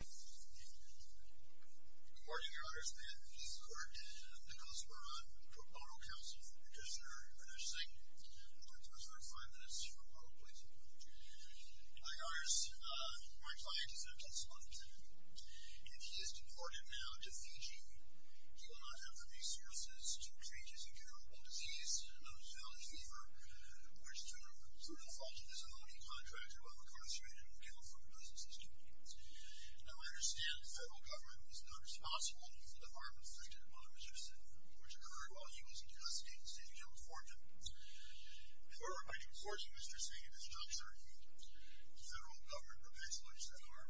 Good morning, your honors. I am Keith Clark. I'm the Cosper Run Proposal Counsel for Professor Vinesh Singh. I'm going to talk to you for about five minutes for a proposal. My honors, my client is a Tesla engineer, and he is deported now to Fiji. He will not have the resources to treat his incurable disease known as Valley Fever, which through no fault of his own, he contracted while incarcerated and was killed from the business system. Now I understand the federal government is now responsible for the harm inflicted upon Mr. Singh, which occurred while he was in custody in the State of California. If we're going to enforce Mr. Singh, there's not certain federal government proposals that are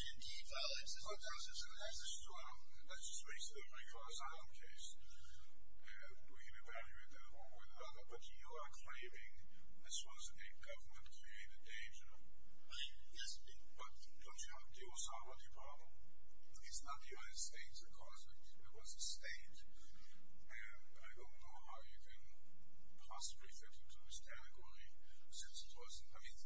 indeed valid. Mr. Sessions has a strong legislative recourse on our case. We can evaluate that. But you are claiming this was a government-created danger. Yes. But don't you have the Osama Diploma? It's not the United States that caused it. It was the state. And I don't know how you can possibly fit into this category, since it was, I mean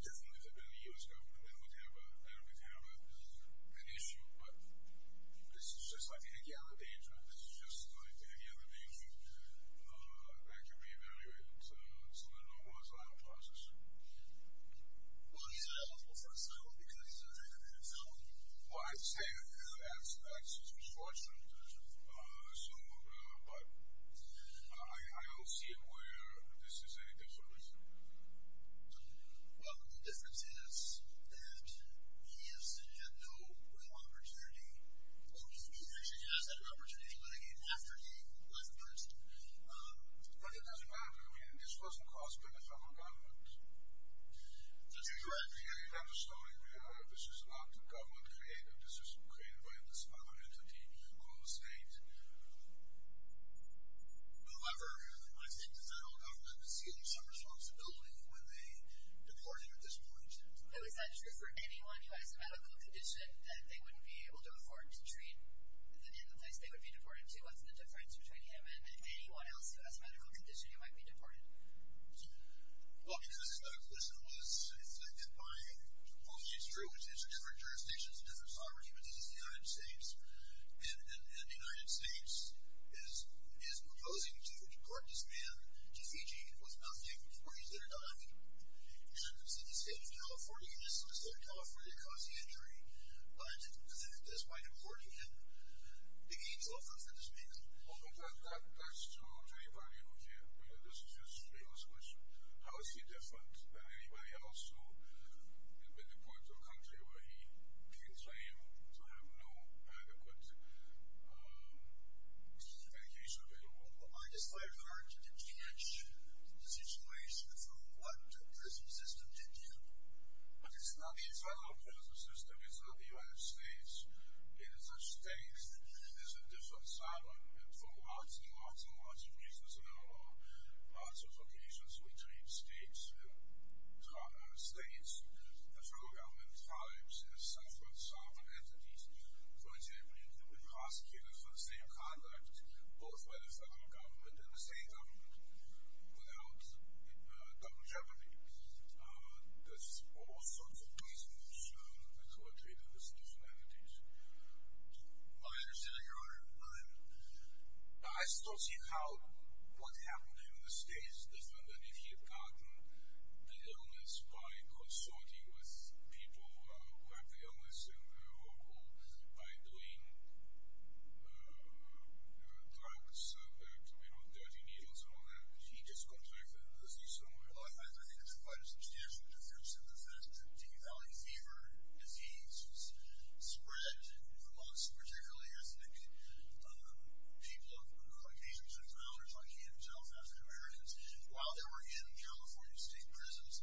this is just like any other danger. This is just like any other danger. I can re-evaluate some of the laws of that process. Well, he's ineligible for asylum because he's an independent fellow. Well, I'd say that that's his restriction. But I don't see it where this is any different. Well, the difference is that he has had no real opportunity. Well, he actually has had an opportunity, but again, after he left Princeton. But it doesn't matter. I mean, this wasn't caused by the federal government. That's exactly right. You have a story. This is not government-created. This is created by this other entity called the state. However, I think the federal government was given some responsibility when they deported him at this point. Is that true for anyone who has a medical condition that they wouldn't be able to afford to treat? In the place they would be deported to, what's the difference between him and anyone else who has a medical condition who might be deported? Well, you know, the question was, if my apologies drew attention, different jurisdictions, different States, and the United States is proposing to deport this man to Fiji and put him out there with the parties that are dying, and the state of California, you're missing the state of California, causing injury, that's why they're deporting him. They need to offer him for this reason. Well, but that's true for anybody who, you know, this is just a famous question. How is he different than anybody else who, when deported to a country where he can claim to have no adequate medication available? Well, I just find it hard to distinguish the situation from what the prison system did do. But it's not the federal prison system, it's not the United States. It is a state that is in different sovereign, and for lots and lots and lots of reasons, and there are lots of occasions we treat states as sovereign entities. For example, you can be prosecuted for the same conduct, both by the federal government and the state government, without government jeopardy. There's all sorts of reasons that's why we're treating them as different entities. Well, I understand that, Your Honor. I still see how what's happened to him in the states is different than if he had gotten the illness by consorting with people who had the illness in Liverpool by doing drugs, you know, dirty needles and all that. He just contracted the disease somewhere else. Well, I think it's quite a substantial difference in the facts. The D. Valley fever disease spread amongst, particularly, I think, people of Asian descent and others like him, South African-Americans, while they were in California state prisons.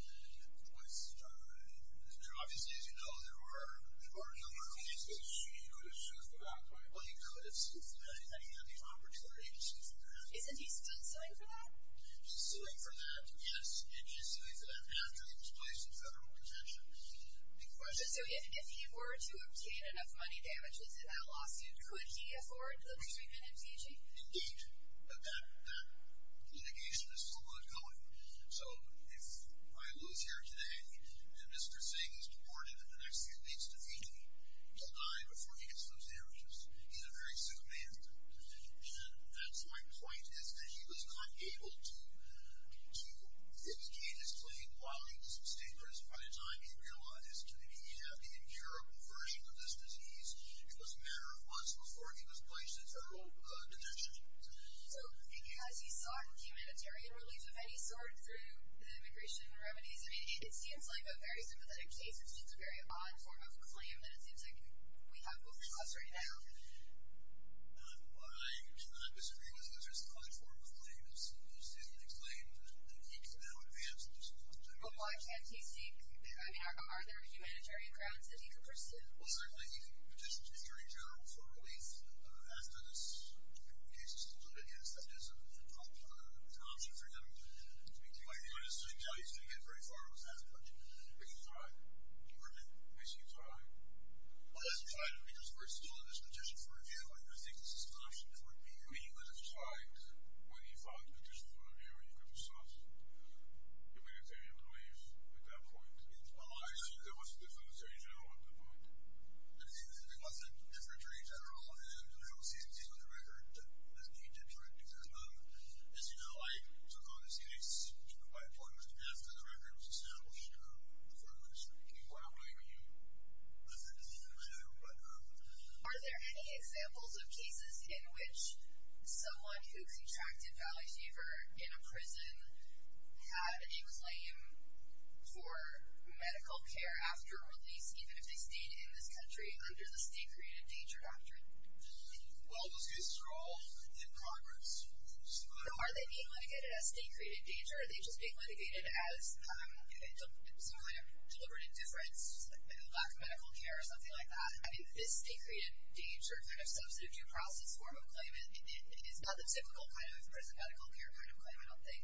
Obviously, as you know, there were a number of cases that he could have sued for that. Well, he could have sued for that, and he had the opportunity to sue for that. Isn't he still suing for that? He's suing for that, yes, and he's suing for that after he was placed in federal detention. Big question. So if he were to obtain enough money damages in that lawsuit, could he afford the treatment in T.G.? Indeed. But that litigation is still ongoing. So if I lose here today and Mr. Singh is deported and the next thing he needs to feed me, he'll die before he gets those damages. He's a very sick man. And that's my point, is that he was not able to get his claim while he was in state prison. By the time he realized that he didn't have the incurable version of this disease, it was a matter of months before he was placed in federal detention. So has he sought humanitarian relief of any sort through the immigration remedies? I mean, it seems like a very sympathetic case. It seems a very odd form of a claim, and it seems like we have both costs right now. What I disagree with is there's another form of claim that's used in the next claim, and he can now advance and do something about it. But why can't he seek? I mean, are there humanitarian grounds that he can pursue? Well, certainly he can petition to the Attorney General for relief after this case is included. Yes, that is an option for him. I can tell you he's going to get very far with that approach. But he's all right. We're in it. He seems all right. Well, he hasn't tried it because first of all, there's a petition for review, and I think this is an option for him. But he would have tried when he filed the petition for review, and he couldn't sought humanitarian relief at that point. Well, I assume there was a different Attorney General at that point. I don't think there was a different Attorney General, and I don't see anything on the record that he did for it because, as you know, I took on this case by appointment after the record was established by the foreign minister. Well, I'm not going to listen to you. Are there any examples of cases in which someone who contracted Valley Fever in a prison had a claim for medical care after release, even if they stayed in this country under the state-created danger doctrine? Well, those cases are all in progress. So are they being litigated as state-created danger, or are they just being litigated as some kind of deliberate indifference, maybe a lack of medical care or something like that? I mean, this state-created danger kind of substitute process form of claim, it's not the typical kind of prison medical care kind of claim, I don't think.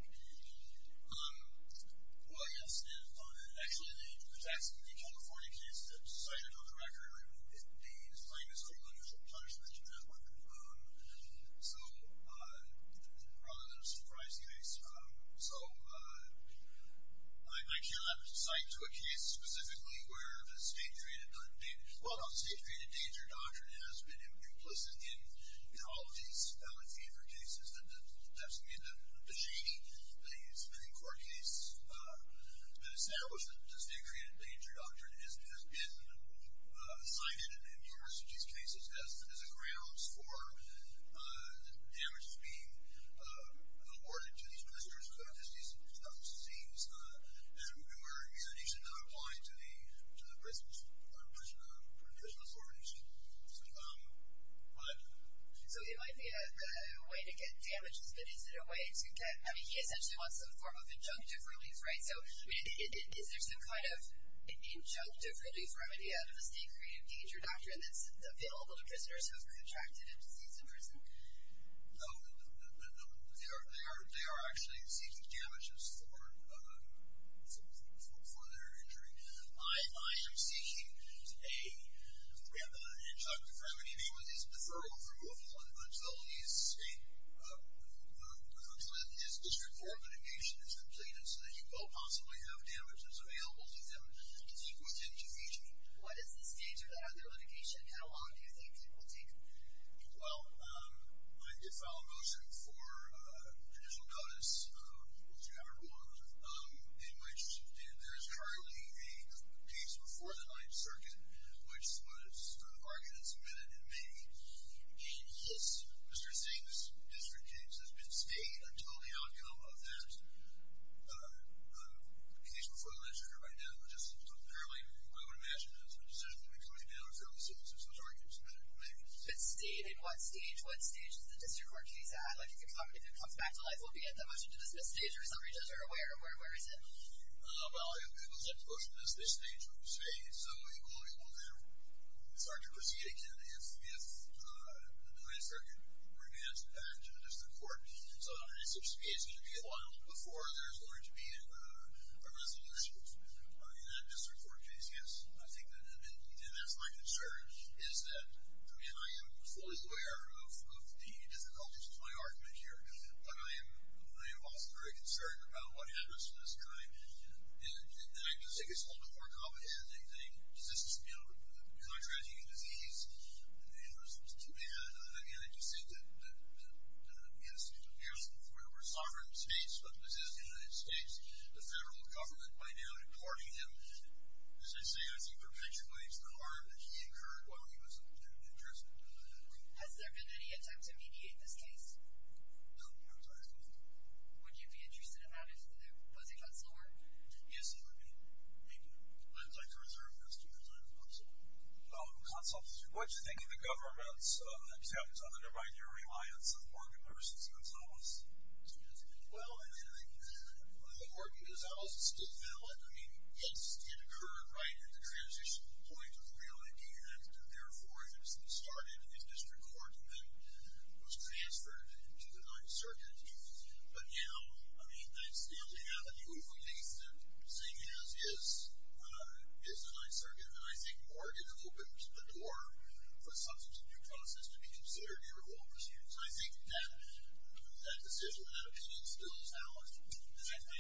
Well, yes, and actually in the exact same California case that cited on the record, the plaintiff's criminal judicial punishment, so rather than a surprise case. So I can't cite to a case specifically where the state-created danger doctrine has been implicit in all of these Valley Fever cases. That doesn't mean that the shady spending court case has been established that the state-created danger doctrine has been cited in most of these cases as a grounds for the damages being awarded to these ministers, because it just doesn't seem as if we're, you know, actually not applying to the prison authorities. So it might be a way to get damages, but is it a way to get – I mean, he essentially wants some form of injunctive release, right? So, I mean, is there some kind of injunctive release remedy out of the state-created danger doctrine that's available to prisoners who have contracted a disease in prison? No, they are actually seeking damages for their injury. I am seeking a – we have an injunctive remedy. I mean, it's preferable for whoever's on the bench, but only if the district court mitigation is completed so that you both possibly have damages available to them to take within two weeks. What is the stage of that, their litigation? How long do you think it will take? Well, it might be a final motion for judicial notice, if you have it or don't have it, in which there is currently a case before the 9th Circuit, which was argued and submitted in May. And yes, Mr. Singh, this district case has been stayed until the outcome of that case before the 9th Circuit. Right now, just apparently, I would imagine, there's a decision that will be coming down fairly soon, since those arguments have been made. But stayed in what stage? What stage is the district court case at? Like, if it comes back to life, will it be at the motion-to-dismiss stage, or some regions, or where? Where is it? Well, people tend to question this at this stage. I would say it's somewhat equilibrium there. It's hard to proceed, again, if the 9th Circuit re-adds it back to the district court. So, I suspect it's going to be a while before there's going to be a resolution in that district court case, yes. I think that's my concern, is that, I mean, I am fully aware of the difficulties with my argument here. But I am also very concerned about what happens at this time. And I think it's a little bit more complicated than you think. Does this deal with contracting a disease? And, again, I just think that, yes, it appears that we're a sovereign state, but this is the United States, the federal government, by now, deporting him. As I say, I think perpetuates the harm that he incurred while he was in the district court. Has there been any attempt to mediate this case? No, I'm sorry. Would you be interested in that, if it was a consular? Yes, I would be. Thank you. I'd like to reserve the rest of your time for consults. Oh, consults. What do you think of the government's attempt to undermine your reliance on Morgan versus Gonzales? Well, I mean, I think the Morgan-Gonzales is still valid. I mean, yes, it occurred right at the transition point of the real Indian Act, and, therefore, it was restarted in this district court, and then it was transferred to the 9th Circuit. But now, I mean, they're still having you released, and seeing as is the 9th Circuit, then I think Morgan opens the door for substance abuse process to be considered irrevocable. So I think that decision, that opinion, still is valid. I think the analysis is the same, whether you started in the district court and transferred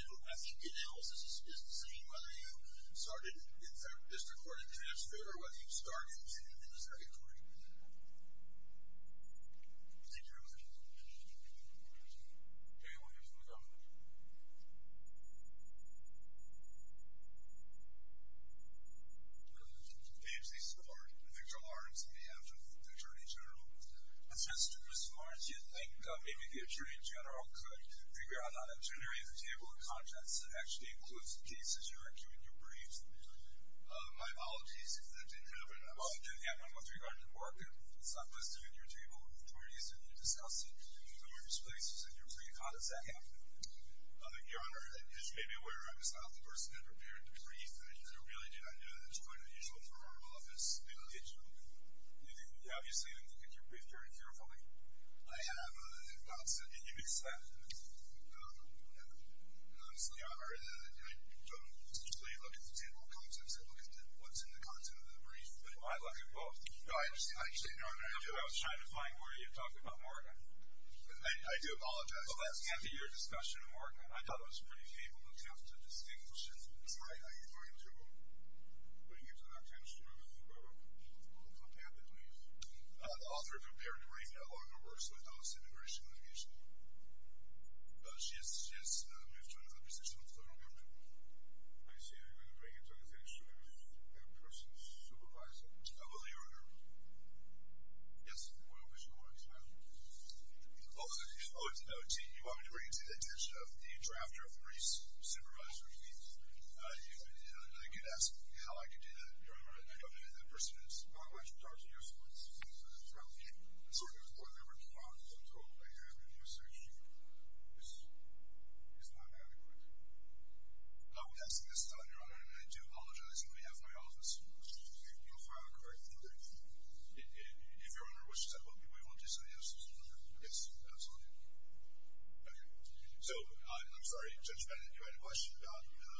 or whether you started in the circuit court. Thank you very much. Any other questions? Okay. We'll hear from the governor. Mr. H.C. Starr. Victor Lawrence on behalf of the Attorney General. It's just, Mr. Lawrence, do you think maybe the Attorney General could figure out how to generate a table of contents that actually includes the cases you are doing your briefs on? My apologies if that didn't happen. Well, it didn't happen. I'm not sure you got it to work. It's not listed in your table of attorneys, and you discussed it in numerous places in your brief. How does that happen? Your Honor, as you may be aware, I was not the person that prepared the brief. I think it's a really good idea that you go into the usual Toronto office and engage them. You obviously look at your brief very carefully. I have, if not, said that you'd be satisfied with it. Honestly, Your Honor, I don't usually look at the table of contents. I look at what's in the content of the brief. Well, I look at both. Your Honor, I was trying to find where you were talking about Mark. I do apologize. Well, that can't be your discussion of Mark. I thought it was a pretty capable attempt to distinguish it. That's right. Are you going to put him into an attorney's room and look at what's going to happen to him? The author of the prepared brief no longer works with us immigration and immigration law. She has moved to another position with the federal government. Are you saying you're going to bring him to an attorney's room and have a person supervise him? I will, Your Honor. Yes, Your Honor. Oh, I see. You want me to bring it to the attention of the drafter of the brief's supervisor, please. I get asked how I can do that. Your Honor, I don't know who that person is. Mark, why don't you talk to your solicitor and see if there's a problem with you? I'm sorry, Your Honor, I'm sorry. Is my memory correct? I would ask that you listen to that, Your Honor, and I do apologize on behalf of my office. You'll file a correct brief. If Your Honor wishes, I hope you will. Do you want to say anything else, Your Honor? Yes, absolutely. Okay. So, I'm sorry, Judge Bennett, you had a question about a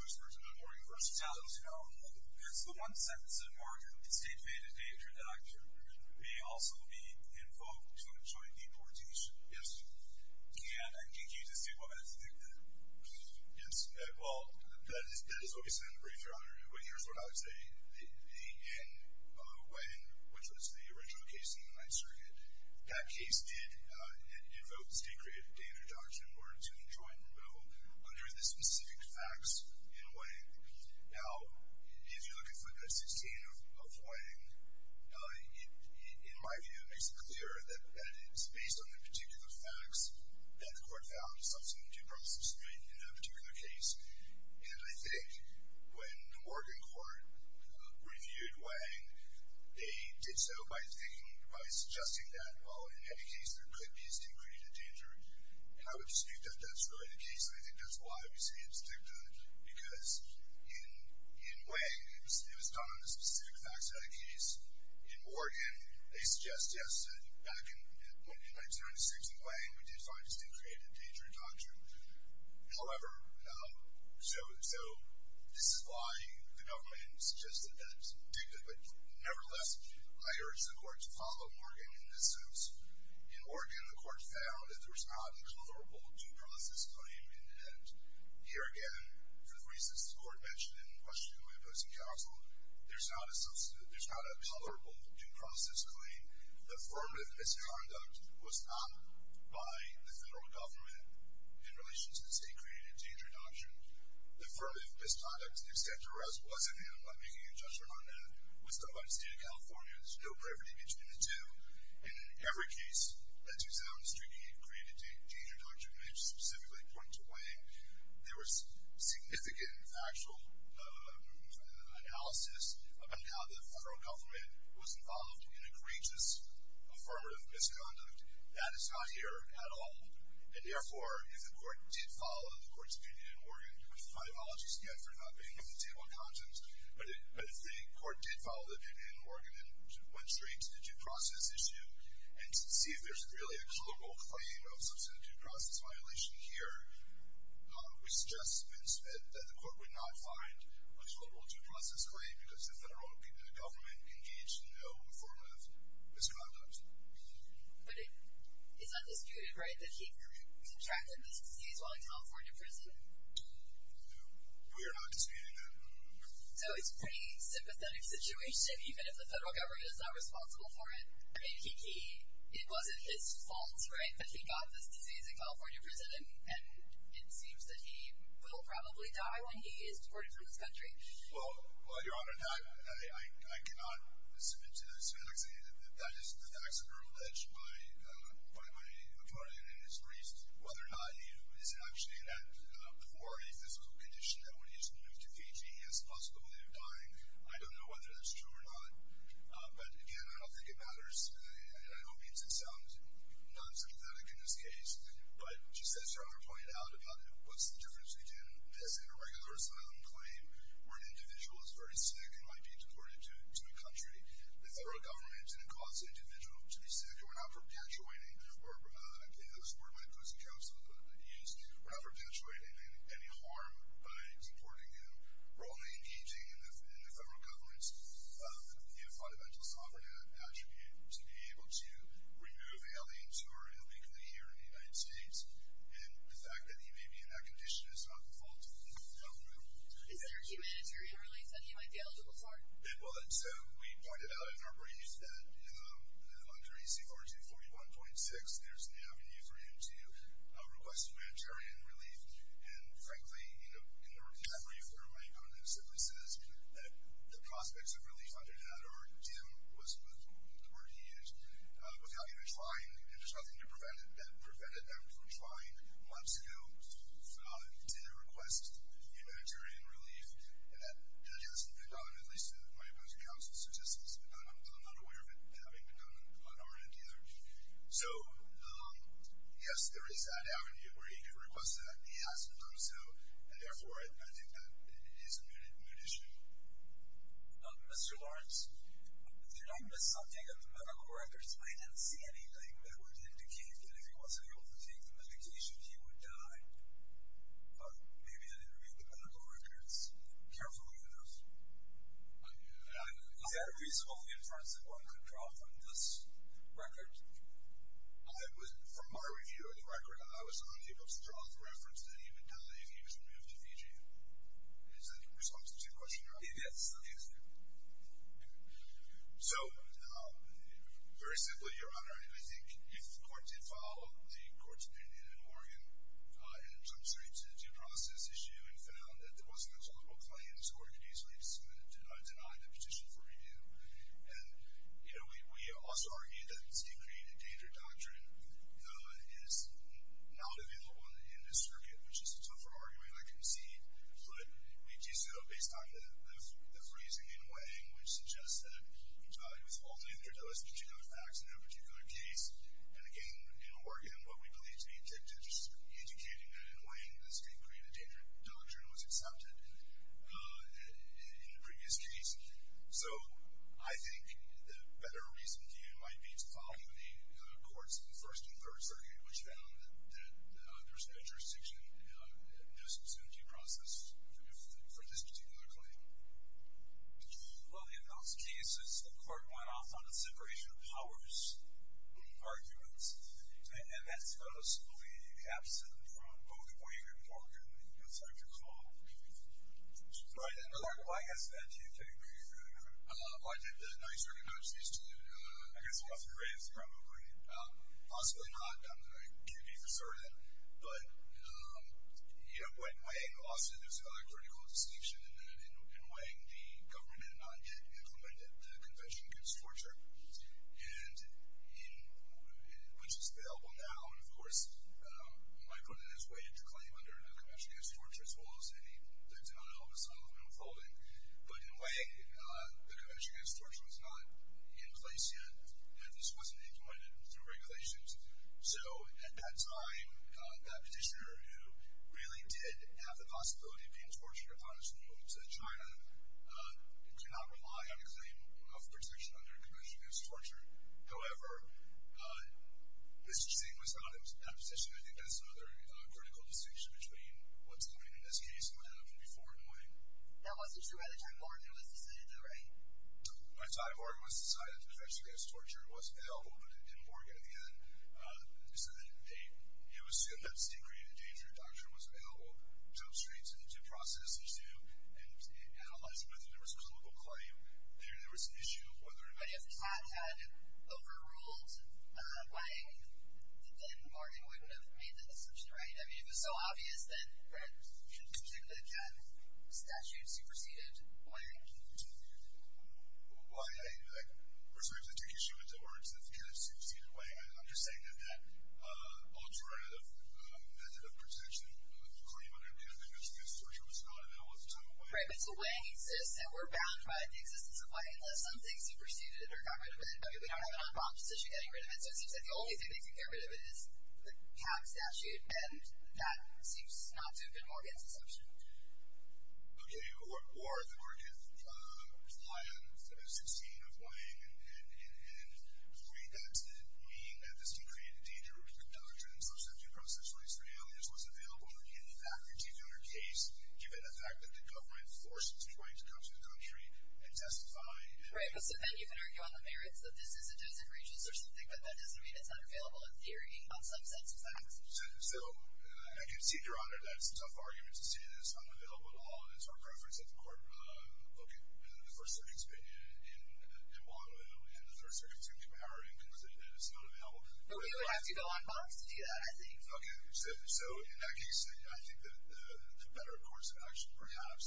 U.S. person not working for us? No, no, no. That's the one sentence that Mark stated in the introduction. He may also be invoked to enjoin deportation. Yes. Can you just state what that statement is? Yes. Well, that is what we said in the brief, Your Honor. But here's what I would say. In Wang, which was the original case in the Ninth Circuit, that case did invoke the state creative data in the introduction in order to enjoin removal under the specific facts in Wang. Now, if you look at footnote 16 of Wang, in my view, it makes it clear that it's based on the particular facts that the court found substantive due process to make in that particular case. And I think when the Oregon court reviewed Wang, they did so by suggesting that, well, in any case, there could be a state creative data. And I would dispute that that's really the case, and I think that's why we say it's dicta. Because in Wang, it was done on the specific facts that make that case. In Oregon, they suggest, yes, that back in 1996 in Wang, we did find a state creative data introduction. However, so this is why the government suggested that it's dicta. But nevertheless, I urge the court to follow Morgan in this sense. In Oregon, the court found that there's not a comparable due process claim. And here again, for the reasons the court mentioned in Washington Post and Counsel, there's not a comparable due process claim. The affirmative misconduct was not by the federal government in relation to the state creative data introduction. The affirmative misconduct, to the extent there was, wasn't handled by making a judgment on that. It was done by the state of California. There's no brevity between the two. In every case that you found a state creative data introduction which specifically pointed to Wang, there was significant factual analysis about how the federal government was involved in a courageous affirmative misconduct. That is not here at all. And therefore, if the court did follow the court's opinion in Oregon, which my apologies again for not being able to take more content, but if the court did follow the opinion in Oregon and went straight to the due process issue and to see if there's really a comparable claim of substantive due process violation here, we suggest that the court would not find a comparable due process claim because the federal government engaged in no affirmative misconduct. But it's not disputed, right, that he contracted this disease while in California prison? We are not disputing that. So it's a pretty sympathetic situation even if the federal government is not responsible for it, and it wasn't his fault, right, that he got this disease in California prison and it seems that he will probably die when he is deported from this country. Well, Your Honor, I cannot submit to this that that is the facts that are alleged by my attorney and his priest. Whether or not he is actually in that before a physical condition that when he is moved to Fiji, he has a possible way of dying, I don't know whether that's true or not. But again, I don't think it matters, and I know it means it sounds not as authentic in this case. But just as Your Honor pointed out about what's the difference between this and a regular asylum claim where an individual is very sick and might be deported to a country, the federal government didn't cause the individual to be sick, and we're not perpetuating, or I believe that was the word my opposing counsel used, we're not perpetuating any harm by deporting him. We're only engaging in the federal government's fundamental sovereign attribute to be able to remove aliens who are illegally here in the United States. And the fact that he may be in that condition is not the fault of the federal government. Is there humanitarian relief that he might be eligible for? So we pointed out in our brief that under EC 4241.6 there's an avenue for you to request humanitarian relief. And frankly, in the recovery, my opponent simply says that the prospects of relief under that are dim, was the word he used, without even trying, and there's nothing that prevented them from trying months ago to request humanitarian relief. And that just hasn't been done, at least to my opposing counsel's assistance, and I'm not aware of it having been done on our end either. So yes, there is that avenue where you could request that. He hasn't done so, and therefore I think that is a moot issue. Mr. Lawrence, did I miss something on the medical records? I didn't see anything that would indicate that if he wasn't able to take the medication, he would die. Maybe I didn't read the medical records carefully enough. Is there a reasonable inference that one could draw from this record? From my review of the record, I was not able to draw the reference that he would die if he was removed to Fiji. Is that in response to the question? Yes. So, very simply, Your Honor, I think if the court did follow the court's opinion in Morgan and jumped straight to the due process issue and found that there wasn't a solvable claim, the court could easily deny the petition for review. And, you know, we also argue that the state-created danger doctrine is not available in this circuit, which is a tougher argument, I can see, but we do so based on the phrasing in Wang, which suggests that he was falsely indicted. There was particular facts in that particular case. And again, in Oregon, what we believe to be educating in Wang, the state-created danger doctrine was accepted in the previous case. So, I think the better reason here might be to follow the courts in the First and Third Circuit, which found that there was no jurisdiction in the justice entity process for this particular claim. Well, in those cases, the court went off on a separation of powers argument, and that's, I believe, absent from both Wang and Morgan outside of the call. Right. And, Clark, I guess that to you could be very true, Your Honor. I did not recognize these two I guess roughly raised here, I'm afraid. Possibly not, but I could be You know what, in Wang, also, there's another critical distinction in that in Wang, the government had not yet implemented the Convention Against Torture. And, which is available now, and of course, Micronet has waived the claim under the Convention Against Torture, as well as any dictum on how the asylum has been unfolding. But in Wang, the Convention Against Torture was not in place yet, and this wasn't implemented through regulations. So, at that time, that petitioner who really did have the possibility of being tortured or punished in New Orleans, China, did not rely on a claim of protection under the Convention Against Torture. However, this thing was not in that position. I think that's another critical distinction between what's going in this case might have been before in Wang. That wasn't true at the time Morgan was decided, though, right? Right. So, I have Morgan was decided that the Convention Against Torture was held in Morgan, and so that they, it was assumed that it's degraded danger. Doctrine was available. Jump straight to the due process, they do, and it analyzes whether there was a colloquial claim. There, there was an issue of whether or not... But if Kat had overruled Wang, then Morgan wouldn't have made that assumption, right? I mean, if it's so obvious, then Fred should particularly have had statutes superseded Wang. Well, I, I, of course, we have to take issue with the words that have superseded Wang. I'm just saying that that alternative method of protection, the claim under Convention Against Torture was not and that wasn't in Wang. Right, but so Wang exists and we're bound by the existence of Wang unless something superseded it or got rid of it, but we don't have an opposition getting rid of it, so it seems that the only thing that can get rid of it is the Kat statute, and that seems not to have been Morgan's assumption. Okay, or, or did Morgan rely on the 16 of 17? I mean, that didn't mean that this could create a danger to the doctrine of social safety process, at least for now. It just wasn't available in the fact-critiquing under case, given the fact that the government forces trying to come to the country and testify and... Right, but so then you can argue on the merits that this is a dozen regions or something, but that doesn't mean it's not available in theory on some sets of facts. So, I can see, Your Honor, that it's a tough argument to say that it's unavailable at all, and it's our preference that the Court look at the First Circuit's opinion in Bonneville, and the Third Circuit seems to have our input that it's not available. But we would have to go on bonds to do that, I think. Okay, so, in that case, I think that the better course of action, perhaps,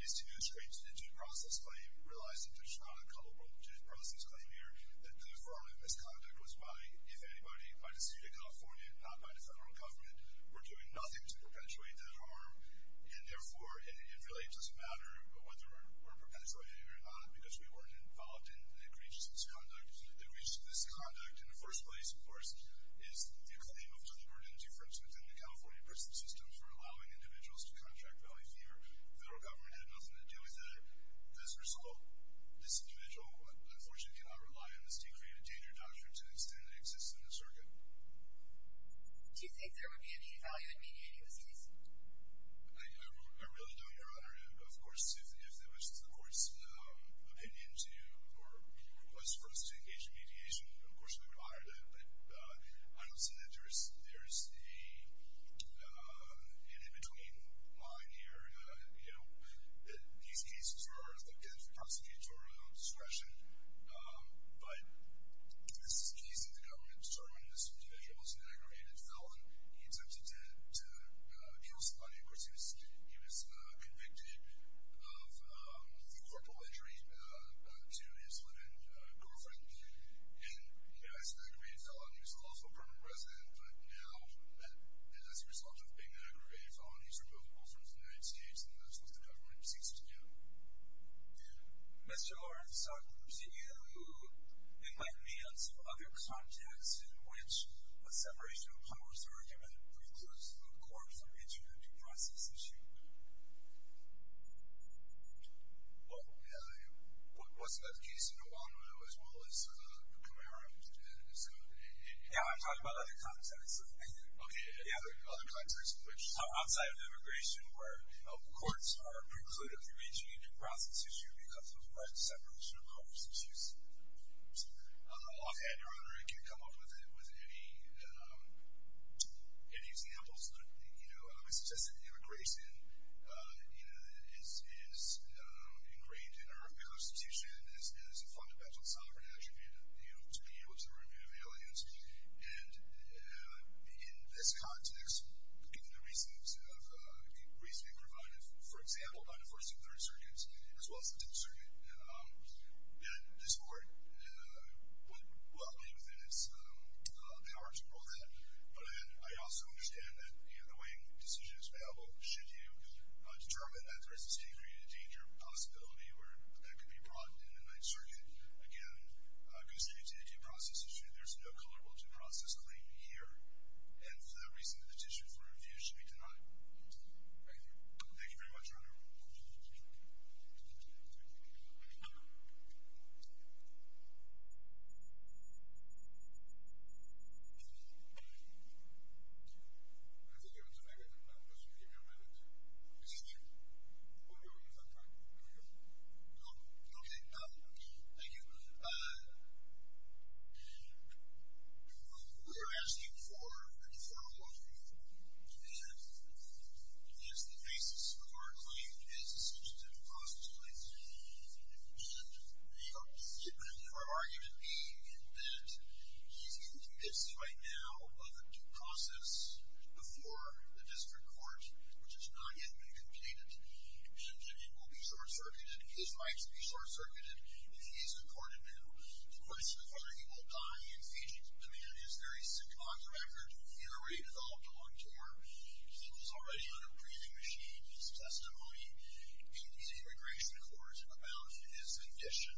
is to straight to the due process claim, realizing there's not a culpable due process claim here, that the fraud and misconduct was by, if anybody, by the State of California, not by the federal government. We're doing nothing to perpetuate that harm, and therefore, it really doesn't matter whether we're involved in the creation of this conduct. The reason for this conduct, in the first place, of course, is the claim of deliberate interference within the California prison system for allowing individuals to contract value fever. The federal government had nothing to do with that. As a result, this individual, unfortunately, cannot rely on the State-created danger doctrine to the extent that it exists in the circuit. Do you think there would be any value in maintaining this case? I really don't, Your Honor. Of course, if that was the request for us to engage in mediation, of course, we would honor that, but I don't see that there's an in-between line here. These cases are, again, prosecutorial discretion, but this is a case that the government determined this individual was an aggravated felon. He attempted to kill somebody. Of course, he was convicted of the corporal injury to his live-in girlfriend, and he was an aggravated felon. He was also a permanent resident, but now, as a result of being an aggravated felon, he's reposed in the United States, and that's when the government ceased to care. Mr. Lawrence, you invited me on some other context in which a separation of powers argument precludes the court from interviewing the process issue. Well, yeah, what's the case in Obama as well as Camaro and so on? Yeah, I'm talking about other contexts. Other contexts in which? Outside of immigration, where courts are precluded from reaching into the process issue because of the present separation of powers issues. Offhand, Your Honor, I can't come up with any examples, but I would suggest that immigration is ingrained in our Constitution as a fundamental sovereign attribute to be able to remove aliens, and in this context, given the reasons provided, for example, by the First and Third Circuits as well as the Tenth Circuit, that this Court would well be within its power to rule that, but I also understand that in the way the decision is available, should you determine that there is a degree of danger or possibility that could be brought in the Ninth Circuit, again, it goes back to the due process issue. There's no culpable due process claim here, and for that reason, the petition for review should be denied. Thank you. Thank you very much, Your Honor. Thank you. Okay. Thank you. We are asking for a referral of the defendant against the basis of our claim as a substantive constitutional issue, and the argument being that he's in the midst right now of a due process before the District Court, which has not yet been completed, and it will be short-circuited. His rights will be short-circuited if he is acquitted now. The question of whether he will die in Fiji demand is very simple. On the record, he had already developed a long tour. He was already on a briefing machine. His testimony in the Immigration Court about his condition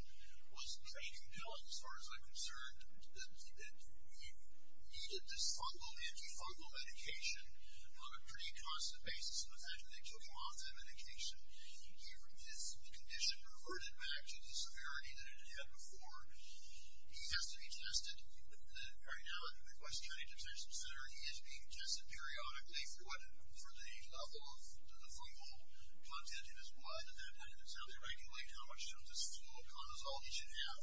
was that he needed this fungal, anti-fungal medication on a pretty constant basis. In fact, they took him off that medication. His condition reverted back to the severity that it had had before. He has to be tested. Right now, at the Midwest County Detention Center, he is being tested periodically for the level of the fungal content in his blood. The defendant himself is regulating how much of this fungal cortisol he should have.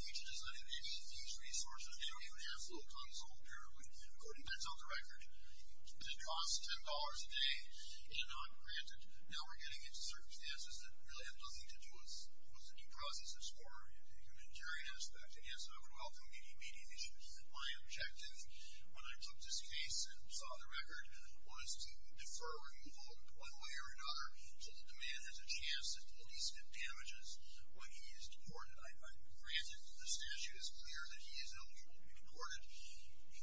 Fiji does not have any of these resources. They don't even have a little ton of cortisol. We couldn't print out the record. It costs $10 a day and I'm granted. Now we're getting into circumstances that really have nothing to do with the processes for the humanitarian aspect. It has an overwhelming median issue. My objective, when I took this case and saw the record, was to defer removal one way or another so that the man has a chance to at least get damages when he is deported. I'm granted that the statute is clear that he is eligible to be deported.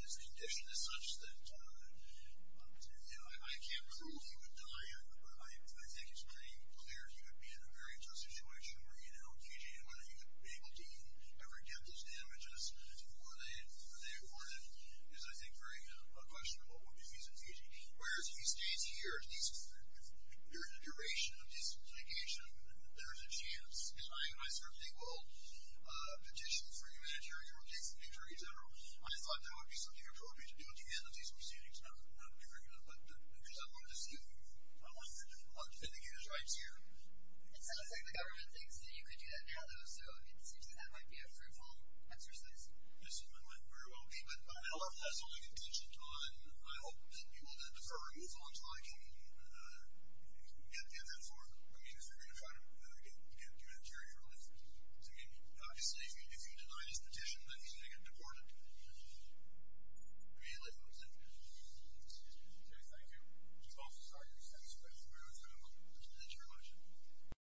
His condition is such that I can't prove he would die, but I think it's pretty clear he would be in a very tough situation where whether he would be able to ever get those damages before they are awarded is, I think, very unquestionable if he's in Fiji. Whereas he stays here at least for the duration of his life, and I certainly will petition for humanitarian relief in Fiji in general. I thought that would be something appropriate to do at the end of these proceedings. I'm not going to be very good at that, but I wanted to see if I wanted to try to mitigate his rights here. It sounds like the government thinks that you could do that now, though, so it seems that that might be a fruitful exercise. I assume it might very well be, but I don't know if that's something intentioned on, I hope, people that defer removal until I can get that forth. I mean, if you're going to try to get humanitarian relief, obviously, if you deny his petition, then he's going to get deported immediately, let's say. Okay, thank you. I'm also sorry to be so disrespectful, but I'm going to go. Thank you very much.